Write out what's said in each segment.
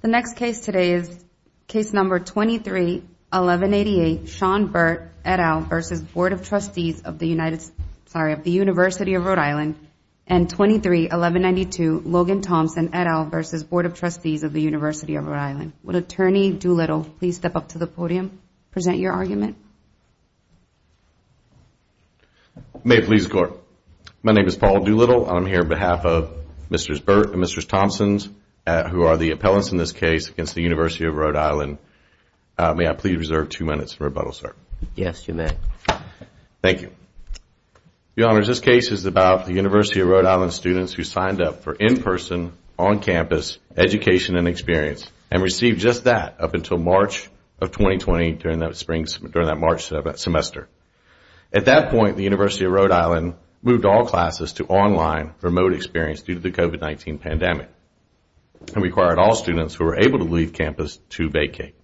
The next case today is Case No. 23-1188, Sean Burt, et al. v. Board of Trustees of the University of RI, and 23-1192, Logan Thompson, et al. v. Board of Trustees of the University of RI. Would Attorney Doolittle please step up to the podium and present your argument? May it please the Court. My name is Paul Doolittle, and I am here on behalf of Mr. Burt and Mr. Thompson, who are the appellants in this case against the University of RI. May I please reserve two minutes for rebuttal, sir? Yes, you may. Thank you. Your Honors, this case is about the University of Rhode Island students who signed up for in-person, on-campus education and experience, and received just that up until March of 2020 during that March semester. At that point, the University of Rhode Island moved all classes to online remote experience due to the COVID-19 pandemic, and required all students who were able to leave campus to vacate.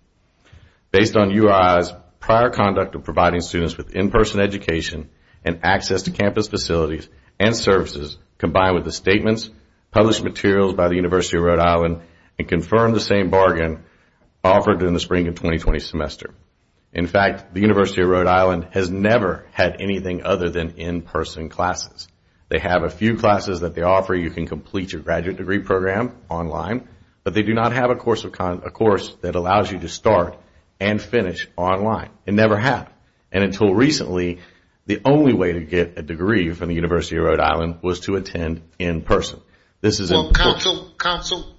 Based on URI's prior conduct of providing students with in-person education and access to campus facilities and services, combined with the statements, published materials by the University of Rhode Island, and confirmed the same bargain offered during the spring of 2020 semester, in fact, the University of Rhode Island has never had anything other than in-person classes. They have a few classes that they offer you can complete your graduate degree program online, but they do not have a course that allows you to start and finish online. It never has. And until recently, the only way to get a degree from the University of Rhode Island was to attend in person. Counsel,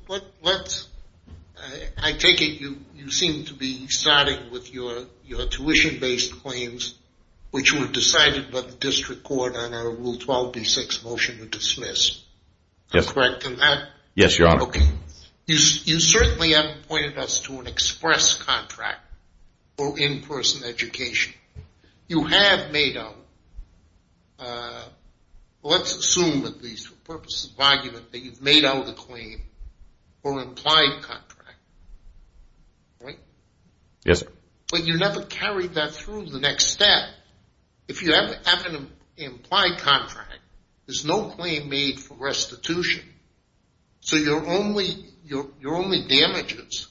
I take it you seem to be starting with your tuition-based claims, which were decided by the district court on our Rule 12-B-6 motion to dismiss. Yes, Your Honor. Okay. You certainly haven't pointed us to an express contract for in-person education. You have made out, let's assume at least for purposes of argument, that you've made out a claim for an implied contract, right? Yes, sir. But you never carried that through the next step. If you have an implied contract, there's no claim made for restitution. So your only damages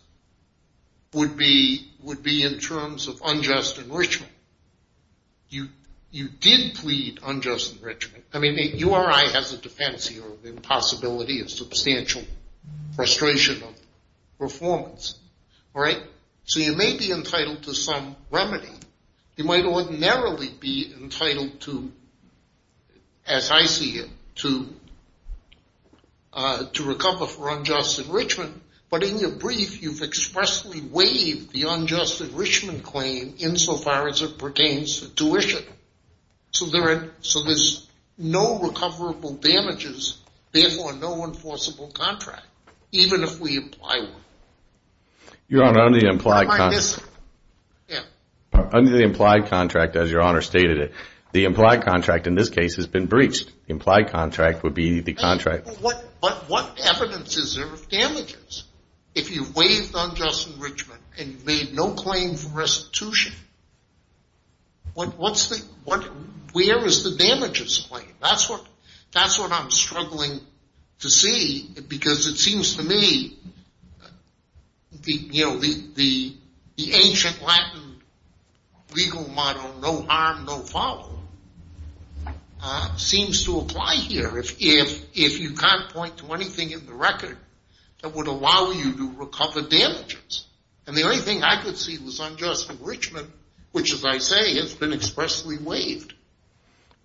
would be in terms of unjust enrichment. You did plead unjust enrichment. I mean, URI has a defense here of the impossibility of substantial frustration of performance, all right? So you may be entitled to some remedy. You might ordinarily be entitled to, as I see it, to recover for unjust enrichment. But in your brief, you've expressly waived the unjust enrichment claim insofar as it pertains to tuition. So there's no recoverable damages, therefore no enforceable contract, even if we apply one. Your Honor, under the implied contract, as Your Honor stated it, the implied contract in this case has been breached. The implied contract would be the contract. But what evidence is there of damages if you waived unjust enrichment and made no claim for restitution? Where is the damages claim? That's what I'm struggling to see because it seems to me the ancient Latin legal motto, no harm, no foul, seems to apply here. If you can't point to anything in the record that would allow you to recover damages. And the only thing I could see was unjust enrichment, which, as I say, has been expressly waived.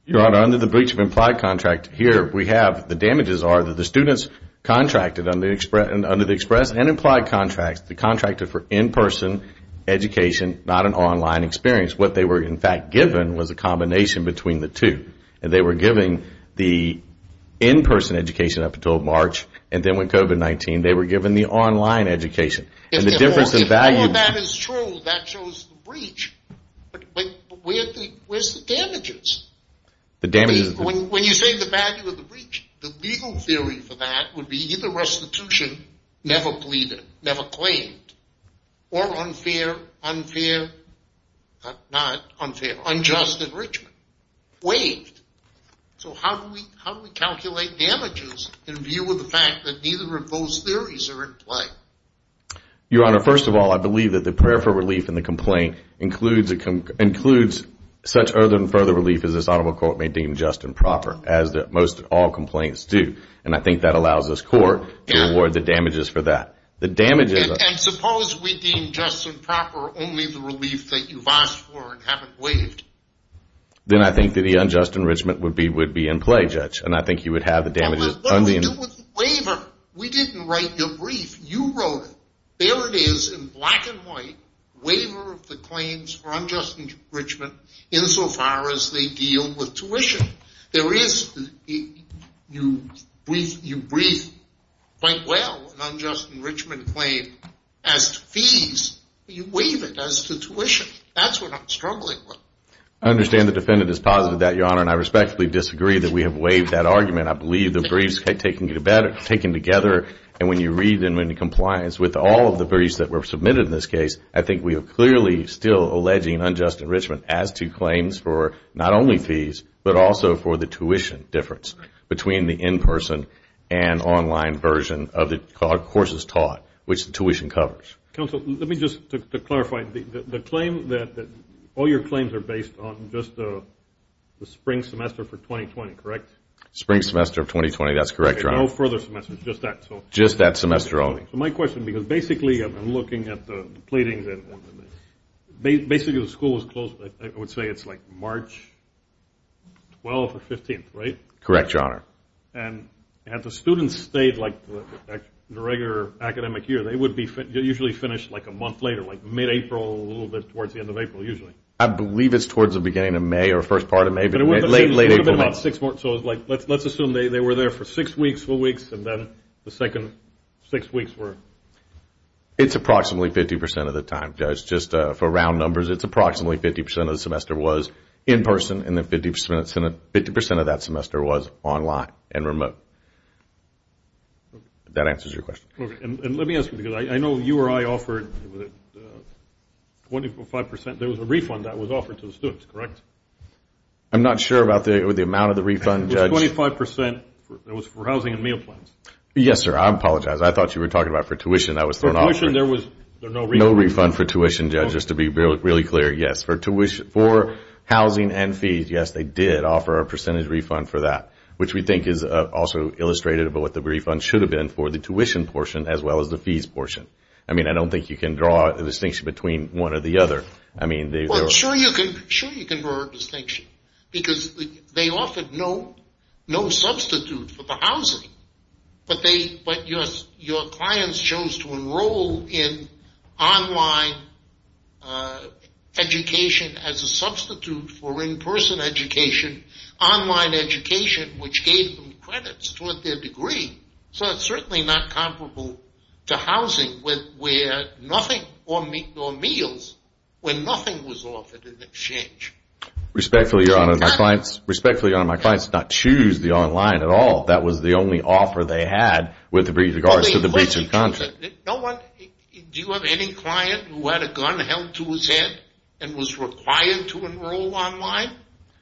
Your Honor, under the breach of implied contract, here we have the damages are that the students contracted under the express and implied contracts, they contracted for in-person education, not an online experience. What they were, in fact, given was a combination between the two. And they were given the in-person education up until March, and then with COVID-19, they were given the online education. If all of that is true, that shows the breach. But where's the damages? When you say the value of the breach, the legal theory for that would be either restitution, never pleaded, never claimed, or unfair, unfair, not unfair, unjust enrichment, waived. So how do we calculate damages in view of the fact that neither of those theories are in play? Your Honor, first of all, I believe that the prayer for relief in the complaint includes such further and further relief as this honorable court may deem just and proper, as most all complaints do. And I think that allows this court to award the damages for that. And suppose we deem just and proper only the relief that you've asked for and haven't waived. Then I think that the unjust enrichment would be in play, Judge, and I think you would have the damages. What do we do with the waiver? We didn't write your brief. You wrote it. There it is in black and white, waiver of the claims for unjust enrichment insofar as they deal with tuition. You brief quite well an unjust enrichment claim as to fees. You waive it as to tuition. That's what I'm struggling with. I understand the defendant is positive of that, Your Honor. And I respectfully disagree that we have waived that argument. I believe the briefs are taken together. And when you read them in compliance with all of the briefs that were submitted in this case, I think we are clearly still alleging unjust enrichment as to claims for not only fees, but also for the tuition difference between the in-person and online version of it called courses taught, which the tuition covers. Counsel, let me just clarify. The claim that all your claims are based on just the spring semester for 2020, correct? Spring semester of 2020. That's correct, Your Honor. No further semesters. Just that. Just that semester only. My question, because basically I'm looking at the pleadings. Basically the school was closed, I would say it's like March 12th or 15th, right? Correct, Your Honor. And if the students stayed like the regular academic year, they would usually finish like a month later, like mid-April, a little bit towards the end of April usually. I believe it's towards the beginning of May or first part of May, but late, late April. So let's assume they were there for six weeks, four weeks, and then the second six weeks were? It's approximately 50% of the time. Just for round numbers, it's approximately 50% of the semester was in-person, and then 50% of that semester was online and remote. That answers your question. Okay. And let me ask you, because I know you or I offered 25%. There was a refund that was offered to the students, correct? I'm not sure about the amount of the refund, Judge. It was 25%. It was for housing and meal plans. Yes, sir. I apologize. I thought you were talking about for tuition. For tuition, there was no refund. No refund for tuition, Judge. Just to be really clear, yes. For housing and fees, yes, they did offer a percentage refund for that, which we think is also illustrated about what the refund should have been for the tuition portion as well as the fees portion. I mean, I don't think you can draw a distinction between one or the other. Well, sure you can draw a distinction because they offered no substitute for the housing, but your clients chose to enroll in online education as a substitute for in-person education, online education, which gave them credits toward their degree. So it's certainly not comparable to housing where nothing, or meals, where nothing was offered in exchange. Respectfully, Your Honor, my clients did not choose the online at all. That was the only offer they had with regards to the breach of contract. Do you have any client who had a gun held to his head and was required to enroll online?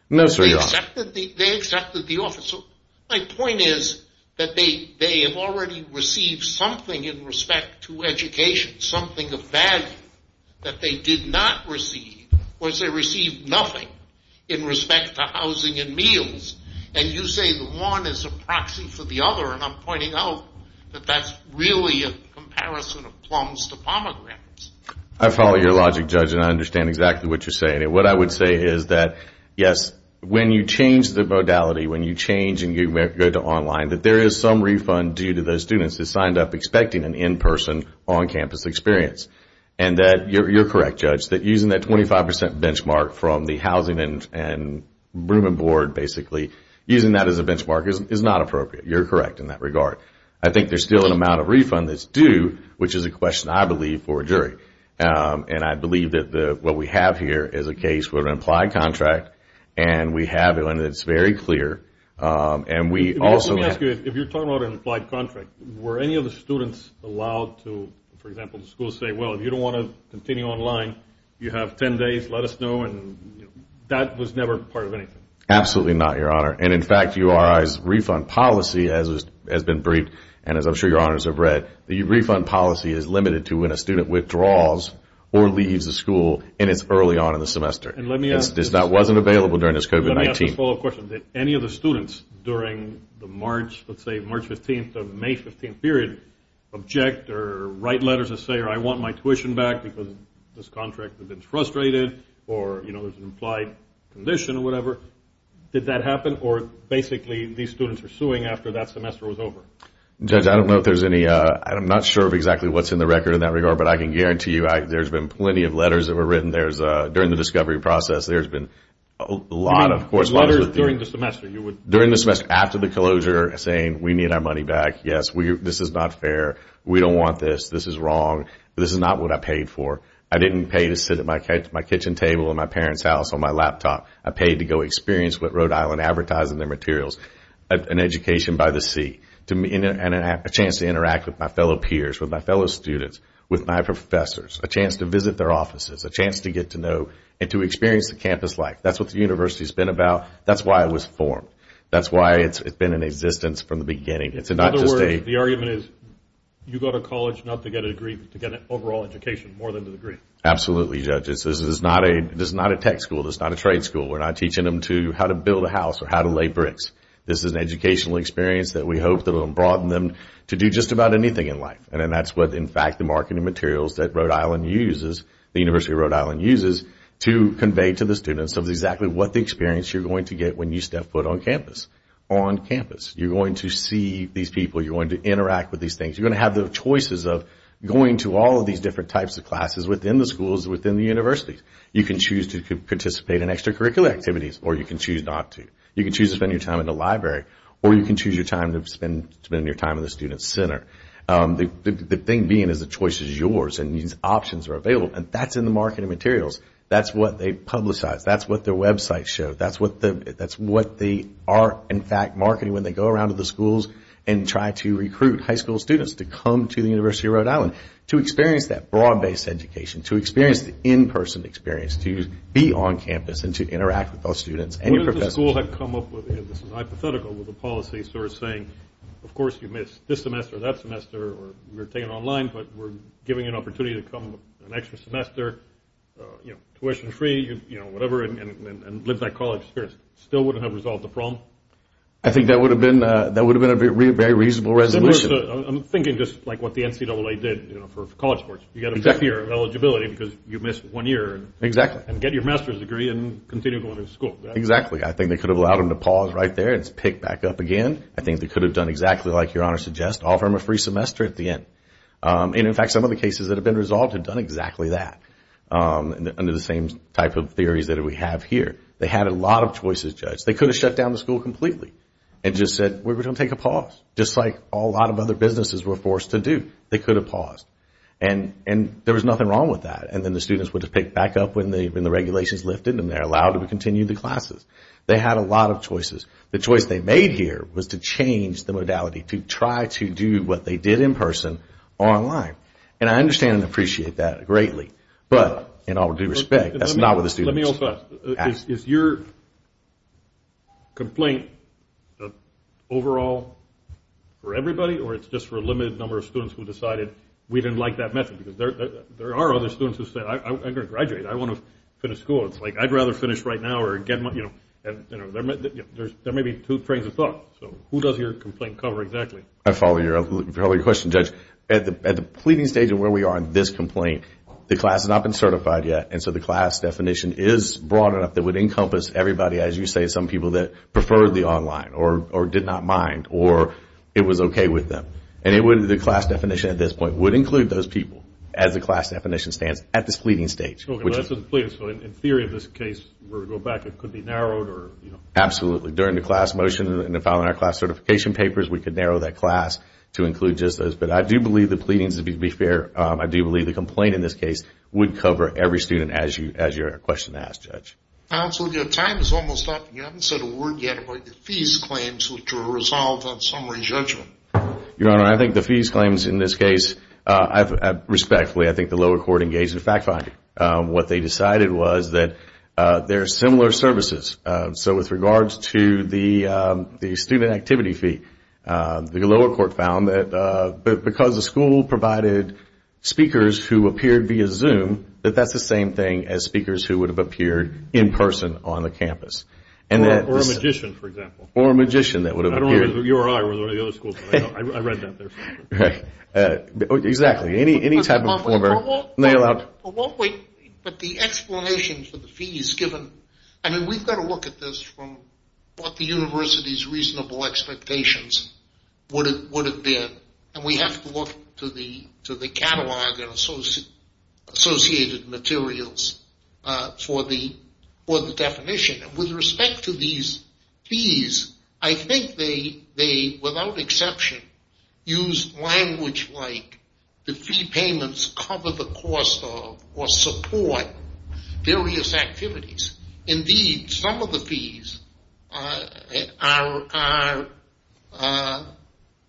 No, sir, Your Honor. They accepted the offer. So my point is that they have already received something in respect to education, something of value that they did not receive, whereas they received nothing in respect to housing and meals. And you say that one is a proxy for the other, and I'm pointing out that that's really a comparison of plums to pomegranates. I follow your logic, Judge, and I understand exactly what you're saying. What I would say is that, yes, when you change the modality, when you change and you go to online, that there is some refund due to those students who signed up expecting an in-person, that using that 25 percent benchmark from the housing and room and board, basically, using that as a benchmark is not appropriate. You're correct in that regard. I think there's still an amount of refund that's due, which is a question, I believe, for a jury. And I believe that what we have here is a case with an implied contract, and we have it, and it's very clear, and we also have it. Let me ask you, if you're talking about an implied contract, were any of the students allowed to, for example, say, well, if you don't want to continue online, you have 10 days, let us know, and that was never part of anything. Absolutely not, Your Honor. And, in fact, URI's refund policy has been briefed, and as I'm sure Your Honors have read, the refund policy is limited to when a student withdraws or leaves the school, and it's early on in the semester. That wasn't available during this COVID-19. Let me ask a follow-up question. Did any of the students during the March, let's say March 15th or May 15th period, object or write letters to say, I want my tuition back because this contract has been frustrated or, you know, there's an implied condition or whatever? Did that happen, or basically these students are suing after that semester was over? Judge, I don't know if there's any. I'm not sure of exactly what's in the record in that regard, but I can guarantee you there's been plenty of letters that were written during the discovery process. There's been a lot of correspondence. Letters during the semester. During the semester, after the closure, saying, we need our money back. Yes, this is not fair. We don't want this. This is wrong. This is not what I paid for. I didn't pay to sit at my kitchen table in my parents' house on my laptop. I paid to go experience what Rhode Island advertised in their materials, an education by the sea, and a chance to interact with my fellow peers, with my fellow students, with my professors, a chance to visit their offices, a chance to get to know and to experience the campus life. That's what the university's been about. That's why it was formed. That's why it's been in existence from the beginning. In other words, the argument is you go to college not to get a degree, but to get an overall education more than the degree. Absolutely, Judge. This is not a tech school. This is not a trade school. We're not teaching them how to build a house or how to lay bricks. This is an educational experience that we hope will broaden them to do just about anything in life. That's what, in fact, the marketing materials that Rhode Island uses, the University of Rhode Island uses, to convey to the students exactly what the experience you're going to get when you step foot on campus. You're going to see these people. You're going to interact with these things. You're going to have the choices of going to all of these different types of classes within the schools, within the universities. You can choose to participate in extracurricular activities, or you can choose not to. You can choose to spend your time in the library, or you can choose to spend your time in the student center. The thing being is the choice is yours, and these options are available, and that's in the marketing materials. That's what they publicize. That's what their websites show. That's what they are, in fact, marketing when they go around to the schools and try to recruit high school students to come to the University of Rhode Island to experience that broad-based education, to experience the in-person experience, to be on campus and to interact with those students. What if the school had come up with, this is hypothetical, with a policy sort of saying, of course you missed this semester, that semester, or you're taking it online, but we're giving you an opportunity to come for an extra semester, tuition free, you know, whatever, and live that college experience. Still wouldn't have resolved the problem? I think that would have been a very reasonable resolution. I'm thinking just like what the NCAA did for college sports. You got a fifth year of eligibility because you missed one year. Exactly. And get your master's degree and continue going to school. Exactly. I think they could have allowed them to pause right there and pick back up again. I think they could have done exactly like Your Honor suggests, offer them a free semester at the end. In fact, some of the cases that have been resolved have done exactly that, under the same type of theories that we have here. They had a lot of choices judged. They could have shut down the school completely and just said, we're going to take a pause, just like a lot of other businesses were forced to do. They could have paused. And there was nothing wrong with that. And then the students would have picked back up when the regulations lifted and they're allowed to continue the classes. They had a lot of choices. The choice they made here was to change the modality, to try to do what they did in person or online. And I understand and appreciate that greatly. But in all due respect, that's not what the students asked. Let me also ask. Is your complaint overall for everybody or it's just for a limited number of students who decided we didn't like that method? Because there are other students who say, I'm going to graduate. I want to finish school. It's like, I'd rather finish right now or get my, you know, there may be two trains of thought. So who does your complaint cover exactly? I follow your earlier question, Judge. At the pleading stage of where we are in this complaint, the class has not been certified yet. And so the class definition is broad enough that would encompass everybody, as you say, some people that preferred the online or did not mind or it was okay with them. And the class definition at this point would include those people, as the class definition stands, at this pleading stage. So in theory of this case, where we go back, it could be narrowed or, you know. Absolutely. During the class motion and the following our class certification papers, we could narrow that class to include just those. But I do believe the pleadings, to be fair, I do believe the complaint in this case would cover every student as your question asked, Judge. Counsel, your time is almost up. You haven't said a word yet about the fees claims which were resolved on summary judgment. Your Honor, I think the fees claims in this case, respectfully, I think the lower court engaged in fact-finding. What they decided was that there are similar services. So with regards to the student activity fee, the lower court found that because the school provided speakers who appeared via Zoom, that that's the same thing as speakers who would have appeared in person on the campus. Or a magician, for example. Or a magician that would have appeared. I don't know if it was you or I or the other school. I read that there. Exactly. Any type of former. But the explanation for the fees given, I mean, we've got to look at this from what the university's reasonable expectations would have been. And we have to look to the catalog and associated materials for the definition. With respect to these fees, I think they, without exception, use language like the fee payments cover the cost of or support various activities. Indeed, some of the fees are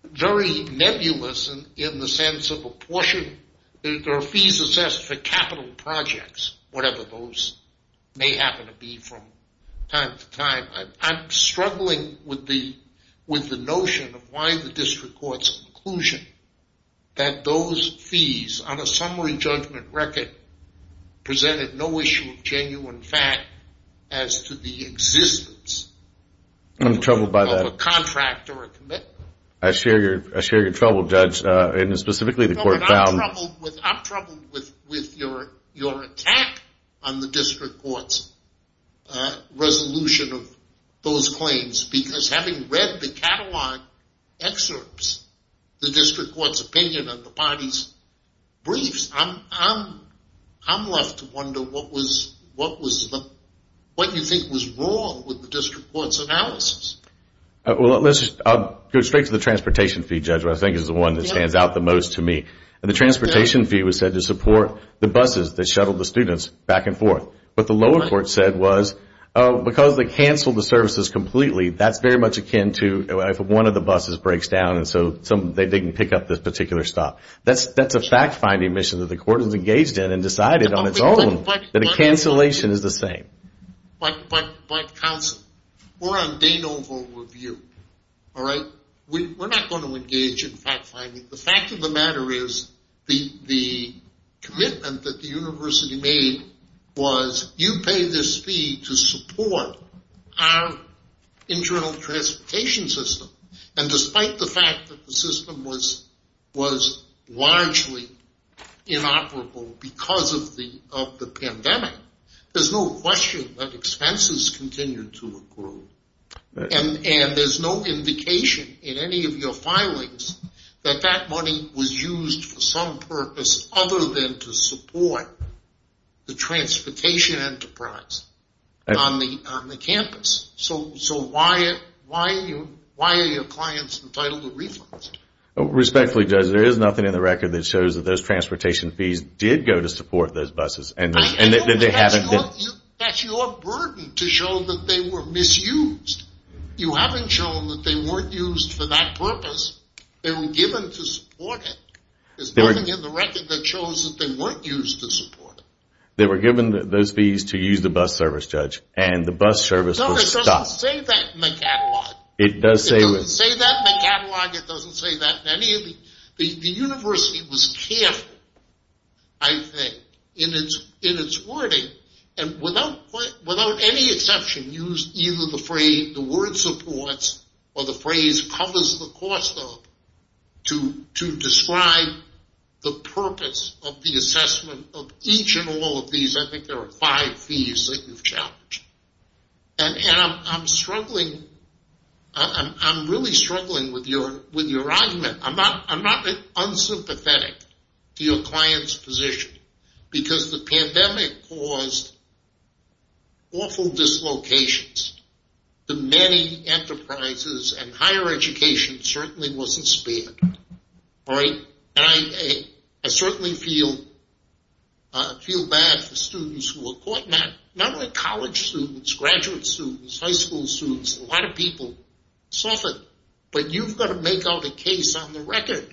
very nebulous in the sense of a portion. There are fees assessed for capital projects, whatever those may happen to be from time to time. I'm struggling with the notion of why the district court's conclusion that those fees on a summary judgment record presented no issue of genuine fact as to the existence of a contract or a commitment. I share your trouble, Judge. I'm troubled with your attack on the district court's resolution of those claims. Because having read the catalog excerpts, the district court's opinion of the parties' briefs, I'm left to wonder what you think was wrong with the district court's analysis. I'll go straight to the transportation fee, Judge, which I think is the one that stands out the most to me. The transportation fee was said to support the buses that shuttled the students back and forth. What the lower court said was because they canceled the services completely, that's very much akin to if one of the buses breaks down and so they didn't pick up this particular stop. That's a fact-finding mission that the court has engaged in and decided on its own that a cancellation is the same. But, counsel, we're on de novo review, all right? We're not going to engage in fact-finding. The fact of the matter is the commitment that the university made was you pay this fee to support our internal transportation system. And despite the fact that the system was largely inoperable because of the pandemic, there's no question that expenses continue to accrue. And there's no indication in any of your filings that that money was used for some purpose other than to support the transportation enterprise on the campus. So why are your clients entitled to refunds? Respectfully, Judge, there is nothing in the record that shows that those transportation fees did go to support those buses. That's your burden to show that they were misused. You haven't shown that they weren't used for that purpose. They were given to support it. There's nothing in the record that shows that they weren't used to support it. They were given those fees to use the bus service, Judge, and the bus service was stopped. No, it doesn't say that in the catalog. It does say it. It doesn't say that in the catalog. It doesn't say that in any of the... The university was careful, I think, in its wording and without any exception used either the phrase, the word supports or the phrase covers the cost of to describe the purpose of the assessment of each and all of these. I think there are five fees that you've challenged. And I'm struggling. I'm really struggling with your argument. I'm not unsympathetic to your client's position because the pandemic caused awful dislocations to many enterprises, and higher education certainly wasn't spared, right? And I certainly feel bad for students who were caught. Not only college students, graduate students, high school students, a lot of people suffered. But you've got to make out a case on the record.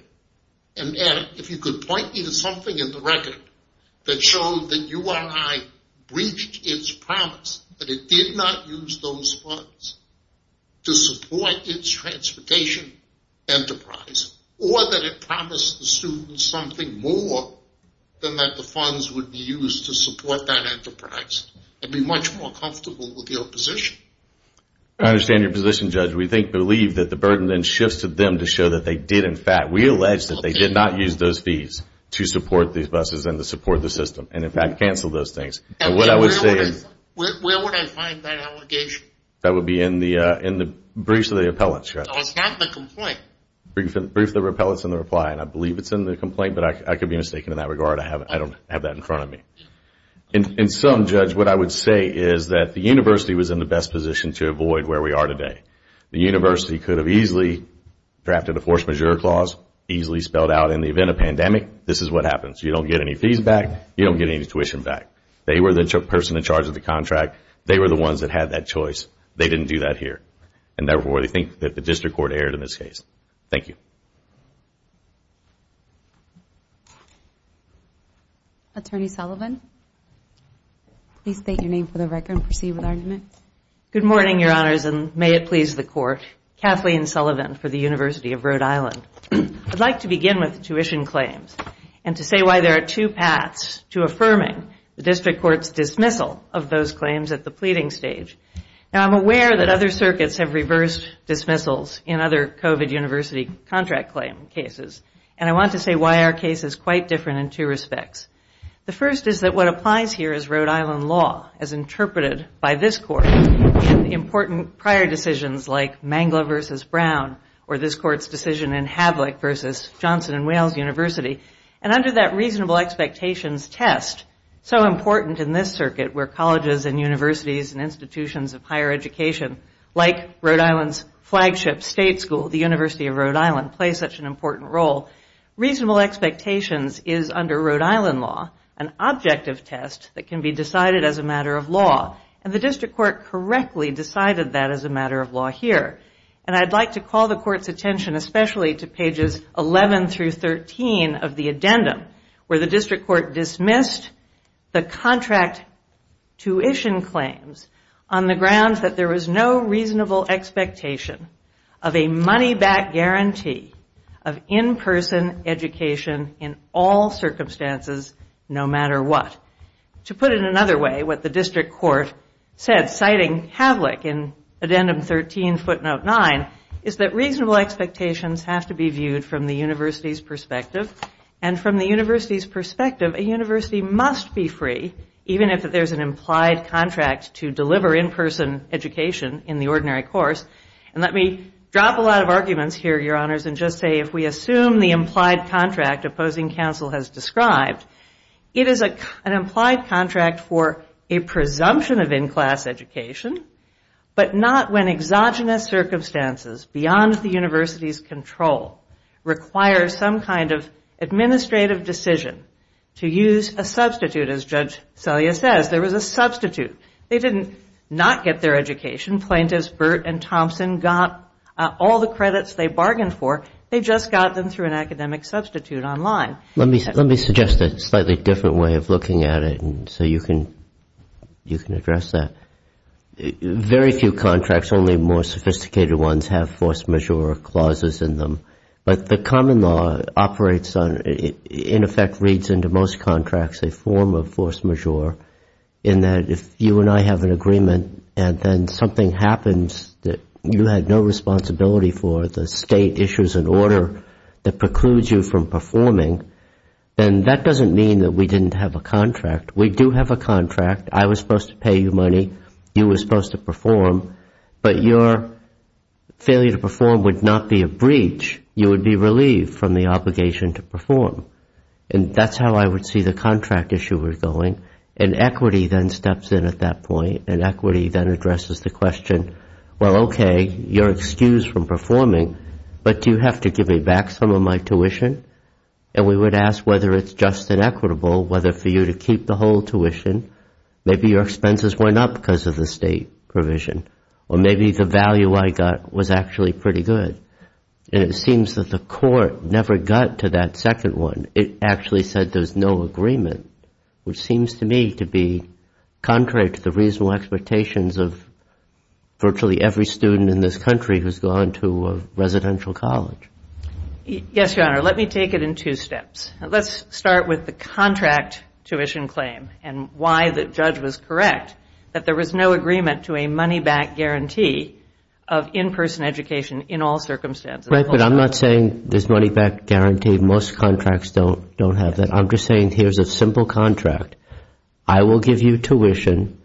And if you could point me to something in the record that showed that URI breached its promise, that it did not use those funds to support its transportation enterprise, or that it promised the students something more than that the funds would be used to support that enterprise, I'd be much more comfortable with your position. I understand your position, Judge. We believe that the burden then shifts to them to show that they did in fact, we allege that they did not use those fees to support these buses and to support the system, and in fact canceled those things. Where would I find that allegation? That would be in the briefs of the appellants, Judge. No, it's not in the complaint. Briefs of the appellants and the reply, and I believe it's in the complaint, but I could be mistaken in that regard. I don't have that in front of me. In sum, Judge, what I would say is that the university was in the best position to avoid where we are today. The university could have easily drafted a force majeure clause, easily spelled out in the event of a pandemic. This is what happens. You don't get any fees back. You don't get any tuition back. They were the person in charge of the contract. They were the ones that had that choice. They didn't do that here. And therefore, I think that the district court erred in this case. Thank you. Thank you. Attorney Sullivan, please state your name for the record and proceed with argument. Good morning, Your Honors, and may it please the Court. Kathleen Sullivan for the University of Rhode Island. I'd like to begin with the tuition claims and to say why there are two paths to affirming the district court's dismissal of those claims at the pleading stage. Now, I'm aware that other circuits have reversed dismissals in other COVID university contract claim cases, and I want to say why our case is quite different in two respects. The first is that what applies here is Rhode Island law, as interpreted by this Court in the important prior decisions like Mangler v. Brown or this Court's decision in Havlick v. Johnson & Wales University. And under that reasonable expectations test, so important in this circuit where colleges and universities and institutions of higher education, like Rhode Island's flagship state school, the University of Rhode Island, play such an important role, reasonable expectations is under Rhode Island law an objective test that can be decided as a matter of law. And the district court correctly decided that as a matter of law here. And I'd like to call the Court's attention especially to pages 11 through 13 of the addendum, where the district court dismissed the contract tuition claims on the grounds that there was no reasonable expectation of a money-back guarantee of in-person education in all circumstances, no matter what. To put it another way, what the district court said, citing Havlick in addendum 13 footnote 9, is that reasonable expectations have to be viewed from the university's perspective and from the university's perspective a university must be free, even if there's an implied contract to deliver in-person education in the ordinary course. And let me drop a lot of arguments here, Your Honors, and just say if we assume the implied contract opposing counsel has described, it is an implied contract for a presumption of in-class education, but not when exogenous circumstances beyond the university's control require some kind of administrative decision to use a substitute. As Judge Selya says, there was a substitute. They didn't not get their education. Plaintiffs Burt and Thompson got all the credits they bargained for. They just got them through an academic substitute online. Let me suggest a slightly different way of looking at it so you can address that. Very few contracts, only more sophisticated ones, have force majeure clauses in them. But the common law operates on, in effect reads into most contracts, a form of force majeure in that if you and I have an agreement and then something happens that you had no responsibility for, the state issues an order that precludes you from performing, then that doesn't mean that we didn't have a contract. We do have a contract. I was supposed to pay you money. You were supposed to perform. But your failure to perform would not be a breach. You would be relieved from the obligation to perform. And that's how I would see the contract issue going. And equity then steps in at that point, and equity then addresses the question, well, okay, you're excused from performing, but do you have to give me back some of my tuition? And we would ask whether it's just and equitable, whether for you to keep the whole tuition, maybe your expenses went up because of the state provision, or maybe the value I got was actually pretty good. And it seems that the court never got to that second one. It actually said there's no agreement, which seems to me to be contrary to the reasonable expectations of virtually every student in this country who's gone to a residential college. Yes, Your Honor. Let me take it in two steps. Let's start with the contract tuition claim and why the judge was correct that there was no agreement to a money-back guarantee of in-person education in all circumstances. Right, but I'm not saying there's money-back guarantee. Most contracts don't have that. I'm just saying here's a simple contract. I will give you tuition,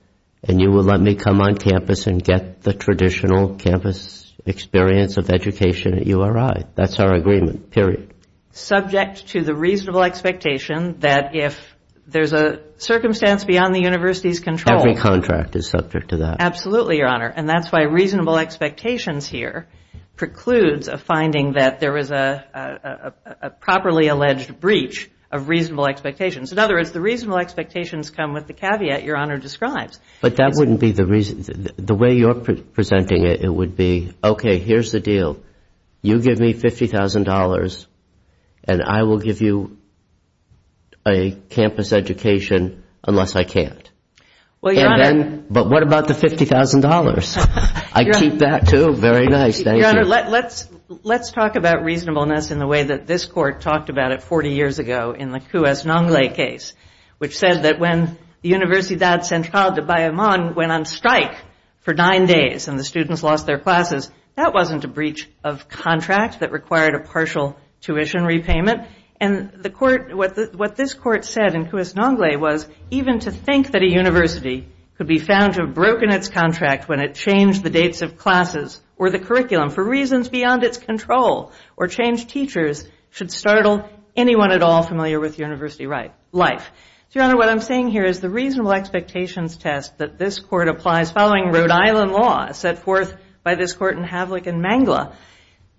and you will let me come on campus and get the traditional campus experience of education at URI. That's our agreement, period. Subject to the reasonable expectation that if there's a circumstance beyond the university's control. Every contract is subject to that. Absolutely, Your Honor. And that's why reasonable expectations here precludes a finding that there was a properly alleged breach of reasonable expectations. In other words, the reasonable expectations come with the caveat Your Honor describes. But that wouldn't be the reason. The way you're presenting it, it would be, okay, here's the deal. You give me $50,000, and I will give you a campus education unless I can't. But what about the $50,000? I keep that, too. Very nice. Thank you. Your Honor, let's talk about reasonableness in the way that this court talked about it 40 years ago in the Cuez-Nongle case, which said that when the Universidad Central de Bayamón went on strike for nine days and the students lost their classes, that wasn't a breach of contract that required a partial tuition repayment. And what this court said in Cuez-Nongle was, even to think that a university could be found to have broken its contract when it changed the dates of classes or the curriculum for reasons beyond its control or changed teachers should startle anyone at all familiar with university life. So, Your Honor, what I'm saying here is the reasonable expectations test that this court applies following Rhode Island law set forth by this court in Havlick and Mangla.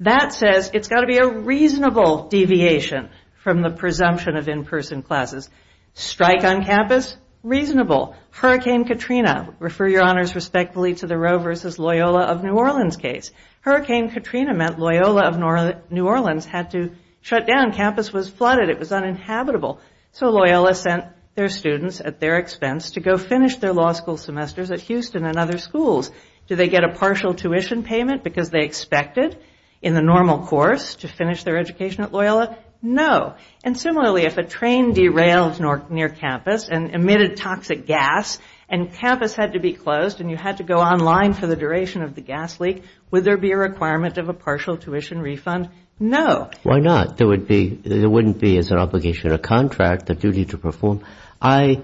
That says it's got to be a reasonable deviation from the presumption of in-person classes. Strike on campus? Reasonable. Hurricane Katrina? Refer, Your Honors, respectfully to the Roe v. Loyola of New Orleans case. Hurricane Katrina meant Loyola of New Orleans had to shut down. Campus was flooded. It was uninhabitable. So Loyola sent their students, at their expense, to go finish their law school semesters at Houston and other schools. Did they get a partial tuition payment because they expected, in the normal course, to finish their education at Loyola? No. And similarly, if a train derailed near campus and emitted toxic gas and campus had to be closed and you had to go online for the duration of the gas leak, would there be a requirement of a partial tuition refund? No. Why not? There wouldn't be as an obligation a contract, a duty to perform. I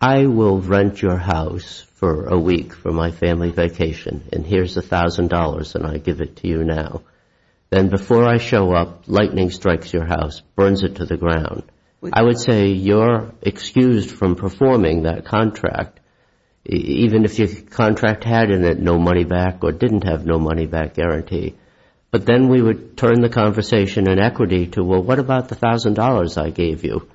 will rent your house for a week for my family vacation, and here's $1,000, and I give it to you now. Then before I show up, lightning strikes your house, burns it to the ground. I would say you're excused from performing that contract, even if your contract had in it no money back or didn't have no money back guarantee. But then we would turn the conversation in equity to, well, what about the $1,000 I gave you?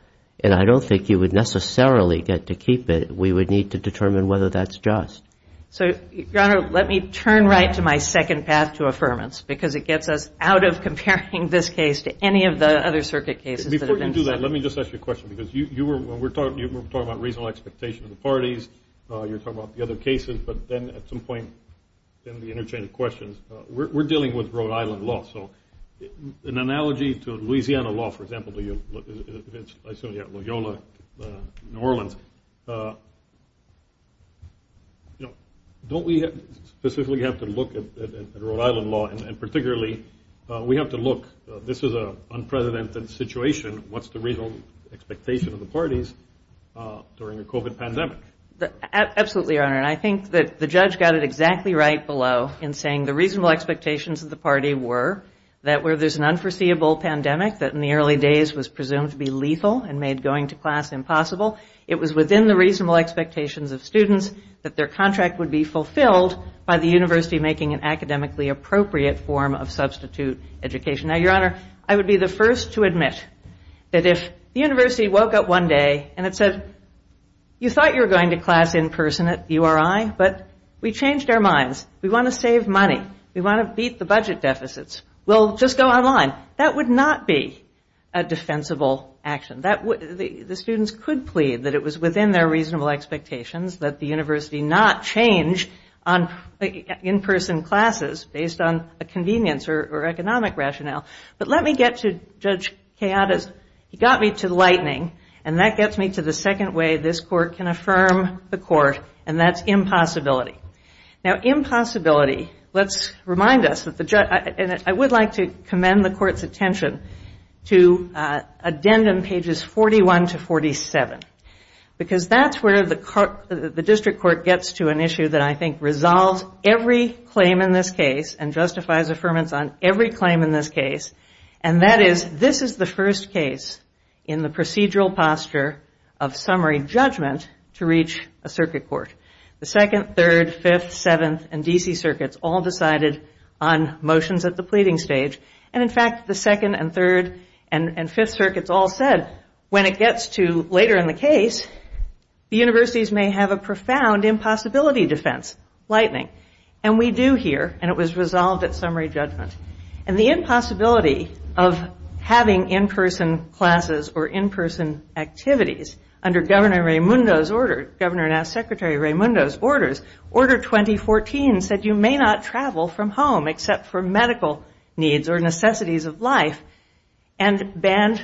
And I don't think you would necessarily get to keep it. We would need to determine whether that's just. So, Your Honor, let me turn right to my second path to affirmance because it gets us out of comparing this case to any of the other circuit cases. Before you do that, let me just ask you a question because you were talking about reasonable expectation of the parties. You were talking about the other cases. But then at some point in the interchange of questions, we're dealing with Rhode Island law. So an analogy to Louisiana law, for example, I assume you have Loyola, New Orleans. Don't we specifically have to look at Rhode Island law, and particularly we have to look, this is an unprecedented situation. What's the reasonable expectation of the parties during a COVID pandemic? Absolutely, Your Honor. And I think that the judge got it exactly right below in saying the reasonable expectations of the party were that where there's an unforeseeable pandemic that in the early days was presumed to be lethal and made going to class impossible, it was within the reasonable expectations of students that their contract would be fulfilled by the university making an academically appropriate form of substitute education. Now, Your Honor, I would be the first to admit that if the university woke up one day and it said, you thought you were going to class in person at URI, but we changed our minds. We want to save money. We want to beat the budget deficits. We'll just go online. That would not be a defensible action. The students could plead that it was within their reasonable expectations that the university not change in-person classes based on a convenience or economic rationale. But let me get to Judge Keada's, he got me to lightning, and that gets me to the second way this court can affirm the court, and that's impossibility. Now, impossibility, let's remind us, and I would like to commend the court's attention to addendum pages 41 to 47, because that's where the district court gets to an issue that I think resolves every claim in this case and justifies affirmance on every claim in this case, and that is this is the first case in the procedural posture of summary judgment to reach a circuit court. The second, third, fifth, seventh, and D.C. circuits all decided on motions at the pleading stage, and, in fact, the second and third and fifth circuits all said when it gets to later in the case, the universities may have a profound impossibility defense, lightning. And we do here, and it was resolved at summary judgment. And the impossibility of having in-person classes or in-person activities under Governor Raimundo's order, Governor and now Secretary Raimundo's orders, Order 2014 said you may not travel from home except for medical needs or necessities of life and banned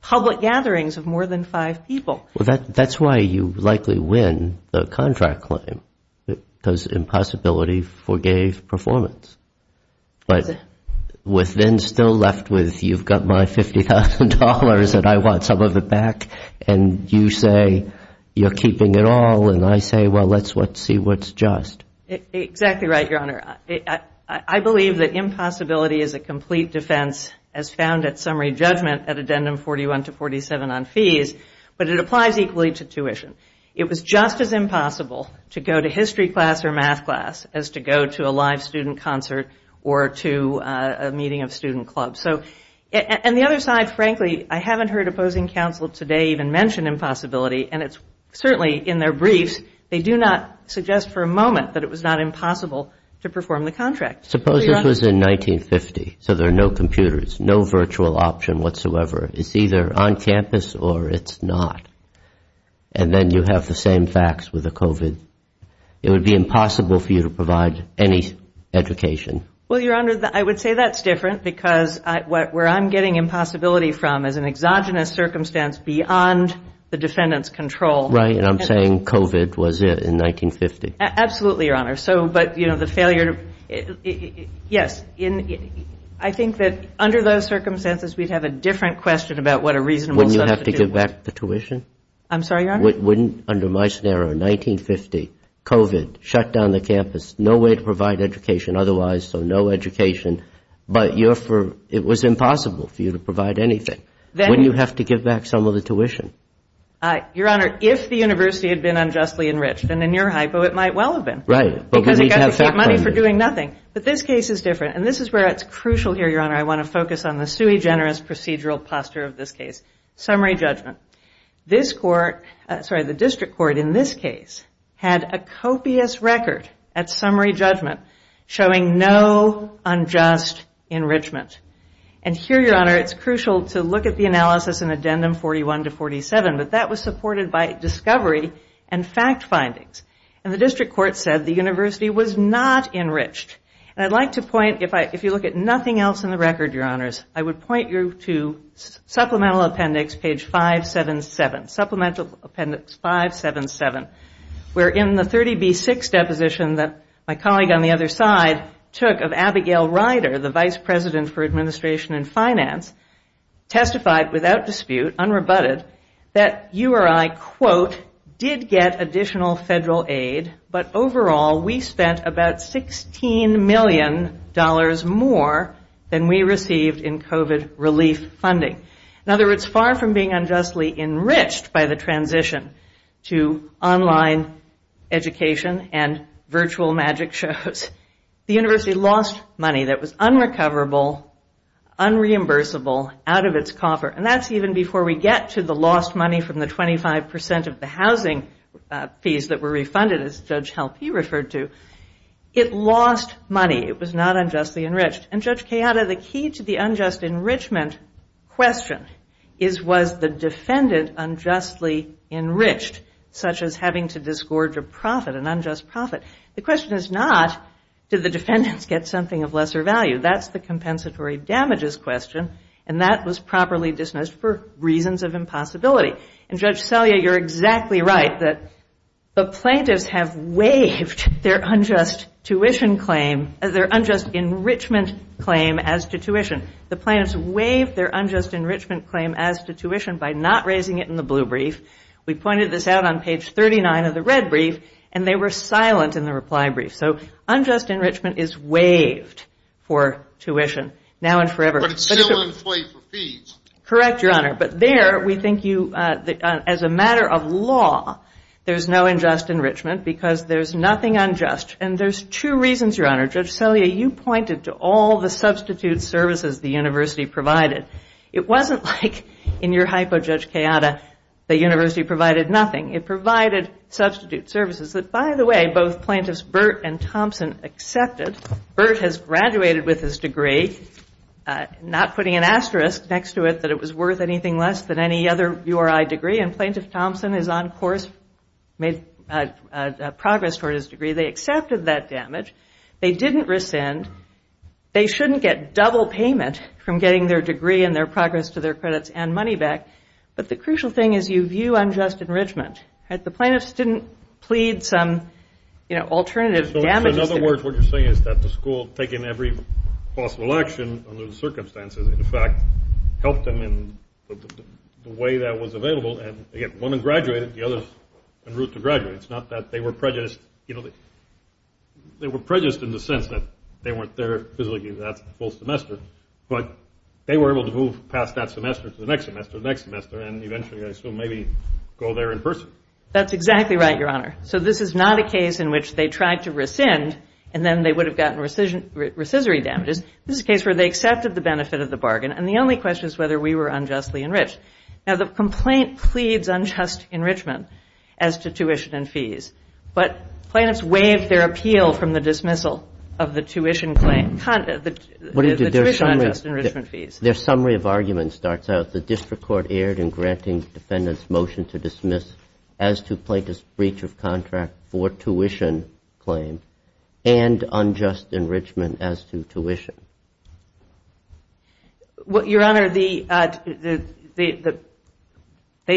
public gatherings of more than five people. Well, that's why you likely win the contract claim, because impossibility forgave performance. But with then still left with you've got my $50,000 and I want some of it back, and you say you're keeping it all, and I say, well, let's see what's just. Exactly right, Your Honor. I believe that impossibility is a complete defense as found at summary judgment at Addendum 41 to 47 on fees, but it applies equally to tuition. It was just as impossible to go to history class or math class as to go to a live student concert or to a meeting of student clubs. And the other side, frankly, I haven't heard opposing counsel today even mention impossibility, and it's certainly in their briefs, they do not suggest for a moment that it was not impossible to perform the contract. Suppose this was in 1950, so there are no computers, no virtual option whatsoever. It's either on campus or it's not. And then you have the same facts with the COVID. It would be impossible for you to provide any education. Well, Your Honor, I would say that's different because where I'm getting impossibility from is an exogenous circumstance beyond the defendant's control. Right, and I'm saying COVID was it in 1950. Absolutely, Your Honor. So, but, you know, the failure to, yes, I think that under those circumstances we'd have a different question about what a reasonable substitute was. Wouldn't you have to give back the tuition? I'm sorry, Your Honor? Wouldn't, under my scenario, 1950, COVID, shut down the campus, no way to provide education otherwise, so no education, but it was impossible for you to provide anything. Wouldn't you have to give back some of the tuition? Your Honor, if the university had been unjustly enriched, then in your hypo it might well have been. Right, but we need to have fact-finding. Because it got to keep money for doing nothing. But this case is different, and this is where it's crucial here, Your Honor. I want to focus on the sui generis procedural posture of this case. Summary judgment. This court, sorry, the district court in this case, had a copious record at summary judgment showing no unjust enrichment. And here, Your Honor, it's crucial to look at the analysis in addendum 41 to 47, but that was supported by discovery and fact findings. And the district court said the university was not enriched. And I'd like to point, if you look at nothing else in the record, Your Honors, I would point you to supplemental appendix page 577, supplemental appendix 577, where in the 30B6 deposition that my colleague on the other side took of Abigail Ryder, the vice president for administration and finance, testified without dispute, unrebutted, that URI, quote, did get additional federal aid, but overall we spent about $16 million more than we received in COVID relief funding. In other words, far from being unjustly enriched by the transition to online education and virtual magic shows, the university lost money that was unrecoverable, unreimbursable, out of its coffer, and that's even before we get to the lost money from the 25% of the housing fees that were refunded, as Judge Halpe referred to. It lost money. It was not unjustly enriched. And, Judge Cayatta, the key to the unjust enrichment question is, was the defendant unjustly enriched, such as having to disgorge a profit, an unjust profit? The question is not, did the defendants get something of lesser value? That's the compensatory damages question, and that was properly dismissed for reasons of impossibility. And, Judge Selye, you're exactly right that the plaintiffs have waived their unjust tuition claim, their unjust enrichment claim as to tuition. The plaintiffs waived their unjust enrichment claim as to tuition by not raising it in the blue brief. We pointed this out on page 39 of the red brief, and they were silent in the reply brief. So unjust enrichment is waived for tuition now and forever. But it's still in play for fees. Correct, Your Honor. But there, we think you, as a matter of law, there's no unjust enrichment because there's nothing unjust. And there's two reasons, Your Honor. Judge Selye, you pointed to all the substitute services the university provided. It wasn't like in your hypo, Judge Cayatta, the university provided nothing. It provided substitute services that, by the way, both Plaintiffs Burt and Thompson accepted. Burt has graduated with his degree, not putting an asterisk next to it that it was worth anything less than any other URI degree. And Plaintiff Thompson is on course, made progress toward his degree. They accepted that damage. They didn't rescind. They shouldn't get double payment from getting their degree and their progress to their credits and money back. But the crucial thing is you view unjust enrichment. The plaintiffs didn't plead some, you know, alternative damages. In other words, what you're saying is that the school, taking every possible action under the circumstances, in fact, helped them in the way that was available. And, again, one had graduated. The other's en route to graduate. It's not that they were prejudiced. You know, they were prejudiced in the sense that they weren't there physically that full semester. But they were able to move past that semester to the next semester, the next semester, and eventually, I assume, maybe go there in person. That's exactly right, Your Honor. So this is not a case in which they tried to rescind, and then they would have gotten rescissory damages. This is a case where they accepted the benefit of the bargain. And the only question is whether we were unjustly enriched. Now, the complaint pleads unjust enrichment as to tuition and fees. But plaintiffs waived their appeal from the dismissal of the tuition unjust enrichment fees. Their summary of arguments starts out, the district court erred in granting defendant's motion to dismiss as to plaintiff's breach of contract for tuition claim and unjust enrichment as to tuition. Your Honor, they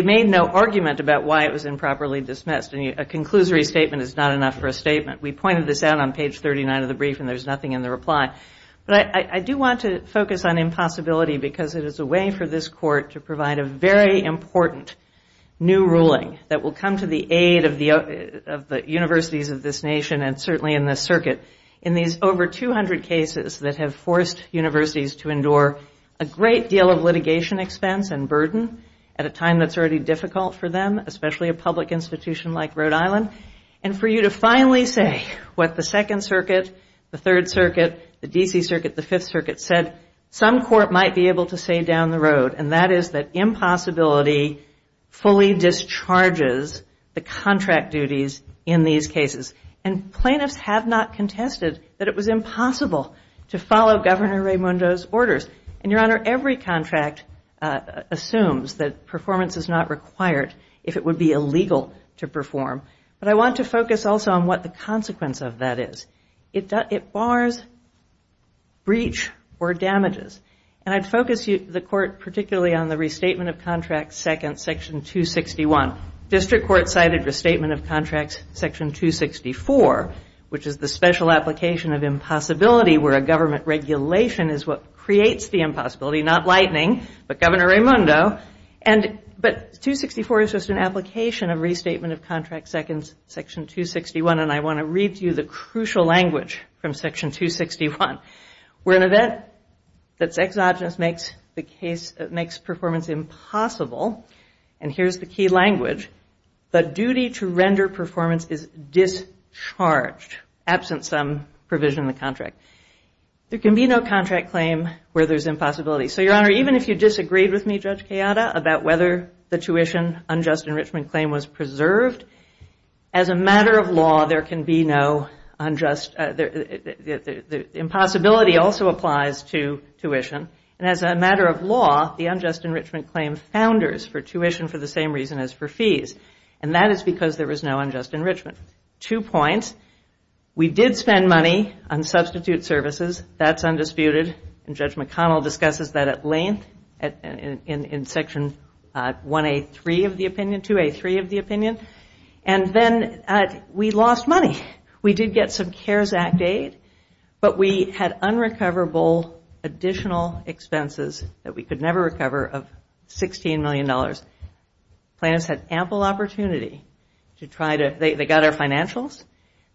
made no argument about why it was improperly dismissed. And a conclusory statement is not enough for a statement. We pointed this out on page 39 of the brief, and there's nothing in the reply. But I do want to focus on impossibility because it is a way for this court to provide a very important new ruling that will come to the aid of the universities of this nation, and certainly in this circuit, in these over 200 cases that have forced universities to endure a great deal of litigation expense and burden at a time that's already difficult for them, especially a public institution like Rhode Island. And for you to finally say what the Second Circuit, the Third Circuit, the D.C. Circuit, the Fifth Circuit said, some court might be able to say down the road, and that is that impossibility fully discharges the contract duties in these cases. And plaintiffs have not contested that it was impossible to follow Governor Raimondo's orders. And, Your Honor, every contract assumes that performance is not required if it would be illegal to perform. But I want to focus also on what the consequence of that is. It bars breach or damages. And I'd focus the court particularly on the Restatement of Contracts, Second, Section 261. District court cited Restatement of Contracts, Section 264, which is the special application of impossibility where a government regulation is what creates the impossibility, not lightning, but Governor Raimondo. But 264 is just an application of Restatement of Contracts, Section 261. And I want to read to you the crucial language from Section 261. We're in an event that's exogenous, makes performance impossible. And here's the key language. The duty to render performance is discharged, absent some provision in the contract. There can be no contract claim where there's impossibility. So, Your Honor, even if you disagreed with me, Judge Kayada, about whether the tuition unjust enrichment claim was preserved, as a matter of law, there can be no unjust. The impossibility also applies to tuition. And as a matter of law, the unjust enrichment claim founders for tuition for the same reason as for fees. And that is because there was no unjust enrichment. Two points. We did spend money on substitute services. That's undisputed. And Judge McConnell discusses that at length in Section 1A3 of the opinion, 2A3 of the opinion. And then we lost money. We did get some CARES Act aid, but we had unrecoverable additional expenses that we could never recover of $16 million. Plaintiffs had ample opportunity to try to they got our financials.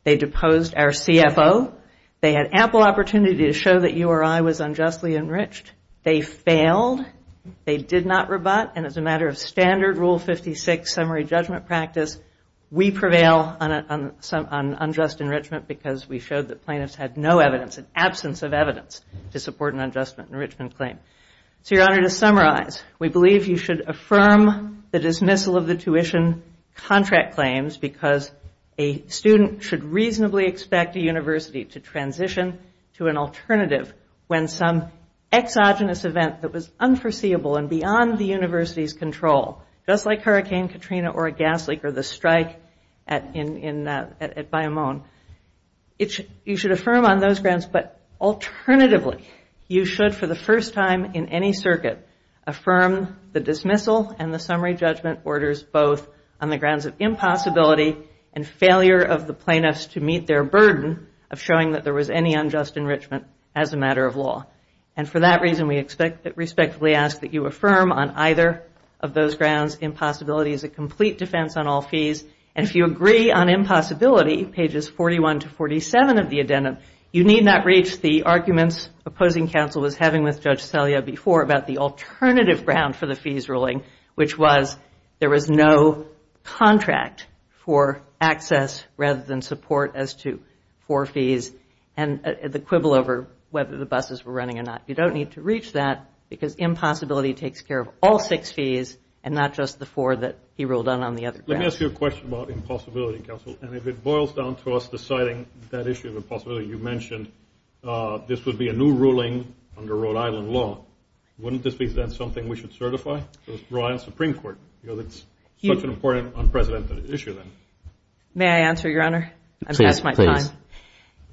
They deposed our CFO. They had ample opportunity to show that you or I was unjustly enriched. They failed. They did not rebut. And as a matter of standard Rule 56 summary judgment practice, we prevail on unjust enrichment because we showed that plaintiffs had no evidence, an absence of evidence, to support an unjust enrichment claim. So, Your Honor, to summarize, we believe you should affirm the dismissal of the tuition contract claims because a student should reasonably expect a university to transition to an alternative when some exogenous event that was unforeseeable and beyond the university's control, just like Hurricane Katrina or a gas leak or the strike at Bayou Mon, you should affirm on those grounds. But alternatively, you should for the first time in any circuit affirm the dismissal and the summary judgment orders both on the grounds of impossibility and failure of the plaintiffs to meet their burden of showing that there was any unjust enrichment as a matter of law. And for that reason, we respectfully ask that you affirm on either of those grounds. Impossibility is a complete defense on all fees. And if you agree on impossibility, pages 41 to 47 of the addendum, you need not reach the arguments opposing counsel was having with Judge Salia before about the alternative ground for the fees ruling, which was there was no contract for access rather than support as to four fees and the quibble over whether the buses were running or not. You don't need to reach that because impossibility takes care of all six fees and not just the four that he ruled on on the other grounds. Let me ask you a question about impossibility, counsel. And if it boils down to us deciding that issue of impossibility, you mentioned this would be a new ruling under Rhode Island law, wouldn't this be something we should certify with the Rhode Island Supreme Court because it's such an important unprecedented issue then? May I answer, Your Honor? I've passed my time. Please.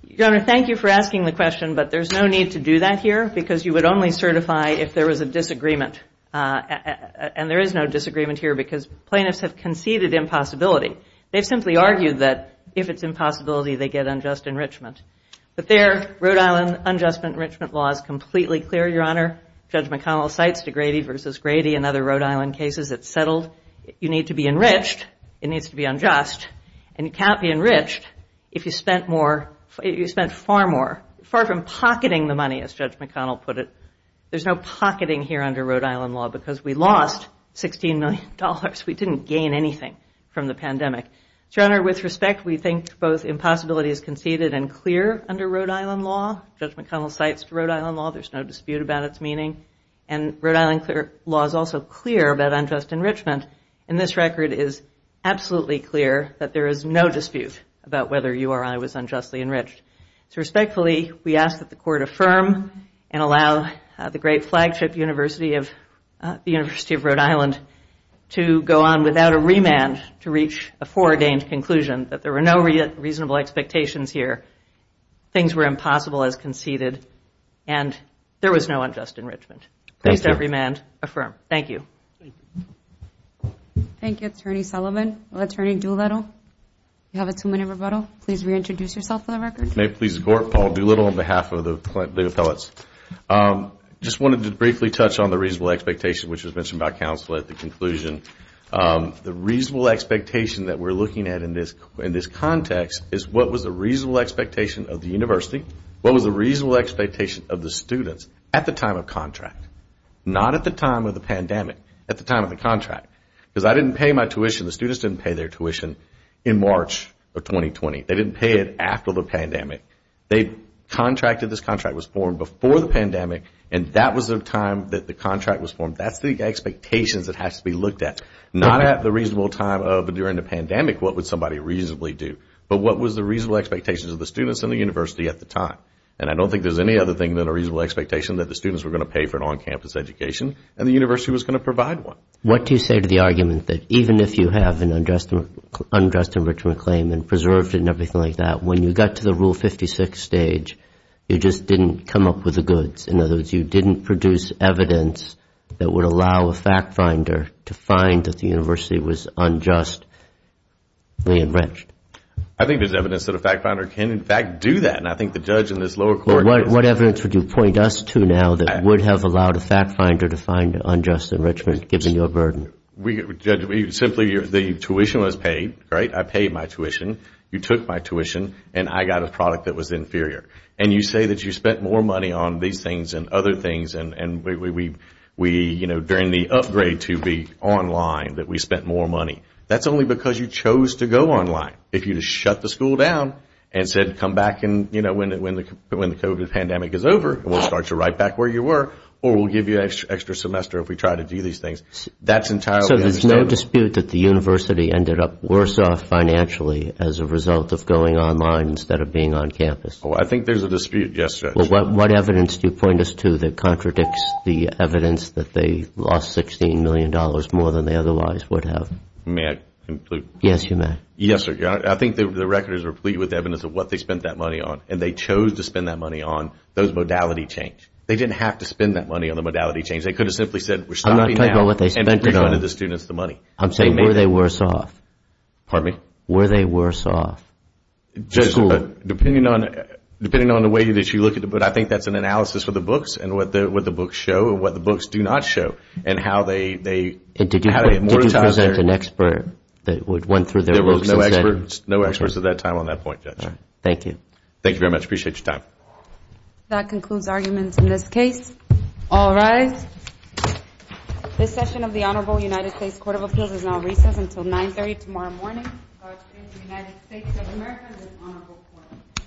Your Honor, thank you for asking the question, but there's no need to do that here because you would only certify if there was a disagreement. And there is no disagreement here because plaintiffs have conceded impossibility. They've simply argued that if it's impossibility, they get unjust enrichment. But there, Rhode Island unjust enrichment law is completely clear, Your Honor. Judge McConnell cites de Grady v. Grady and other Rhode Island cases. It's settled. You need to be enriched. It needs to be unjust. And you can't be enriched if you spent far more, far from pocketing the money, as Judge McConnell put it. There's no pocketing here under Rhode Island law because we lost $16 million. We didn't gain anything from the pandemic. Your Honor, with respect, we think both impossibility is conceded and clear under Rhode Island law. Judge McConnell cites Rhode Island law. There's no dispute about its meaning. And Rhode Island law is also clear about unjust enrichment. And this record is absolutely clear that there is no dispute about whether URI was unjustly enriched. So respectfully, we ask that the Court affirm and allow the great flagship University of Rhode Island to go on without a remand to reach a foreordained conclusion that there were no reasonable expectations here, things were impossible as conceded, and there was no unjust enrichment. Please don't remand. Affirm. Thank you. Thank you. Thank you, Attorney Sullivan. Attorney Doolittle, you have a two-minute rebuttal. Please reintroduce yourself for the record. May it please the Court, Paul Doolittle on behalf of the appellates. I just wanted to briefly touch on the reasonable expectation, which was mentioned by counsel at the conclusion. The reasonable expectation that we're looking at in this context is what was the reasonable expectation of the university, what was the reasonable expectation of the students at the time of contract, not at the time of the pandemic, at the time of the contract. Because I didn't pay my tuition, the students didn't pay their tuition in March of 2020. They didn't pay it after the pandemic. They contracted, this contract was formed before the pandemic, and that was the time that the contract was formed. That's the expectations that has to be looked at, not at the reasonable time of during the pandemic, what would somebody reasonably do, but what was the reasonable expectations of the students and the university at the time. And I don't think there's any other thing than a reasonable expectation that the students were going to pay for an on-campus education and the university was going to provide one. What do you say to the argument that even if you have an unjust enrichment claim and preserved it and everything like that, when you got to the Rule 56 stage, you just didn't come up with the goods? In other words, you didn't produce evidence that would allow a fact finder to find that the university was unjustly enriched? I think there's evidence that a fact finder can, in fact, do that, and I think the judge in this lower court is— What evidence would you point us to now that would have allowed a fact finder to find an unjust enrichment given your burden? Simply, the tuition was paid, right? I paid my tuition, you took my tuition, and I got a product that was inferior. And you say that you spent more money on these things and other things and during the upgrade to be online, that we spent more money. That's only because you chose to go online. If you just shut the school down and said, come back when the COVID pandemic is over, we'll start to write back where you were, or we'll give you an extra semester if we try to do these things, that's entirely understandable. So there's no dispute that the university ended up worse off financially as a result of going online instead of being on campus? I think there's a dispute, yes. What evidence do you point us to that contradicts the evidence that they lost $16 million more than they otherwise would have? May I conclude? Yes, you may. Yes, sir. I think the record is replete with evidence of what they spent that money on, and they chose to spend that money on, those modality change. They didn't have to spend that money on the modality change. They could have simply said, we're stopping now, and provided the students the money. I'm saying, were they worse off? Pardon me? Were they worse off? Depending on the way that you look at it, but I think that's an analysis for the books and what the books show and what the books do not show, and how they… Did you present an expert that went through their books and said… There were no experts at that time on that point, Judge. Yes, sir. Thank you. Thank you very much. I appreciate your time. That concludes arguments in this case. All rise. This session of the Honorable United States Court of Appeals is now recessed until 9.30 tomorrow morning. The United States of America is an honorable court.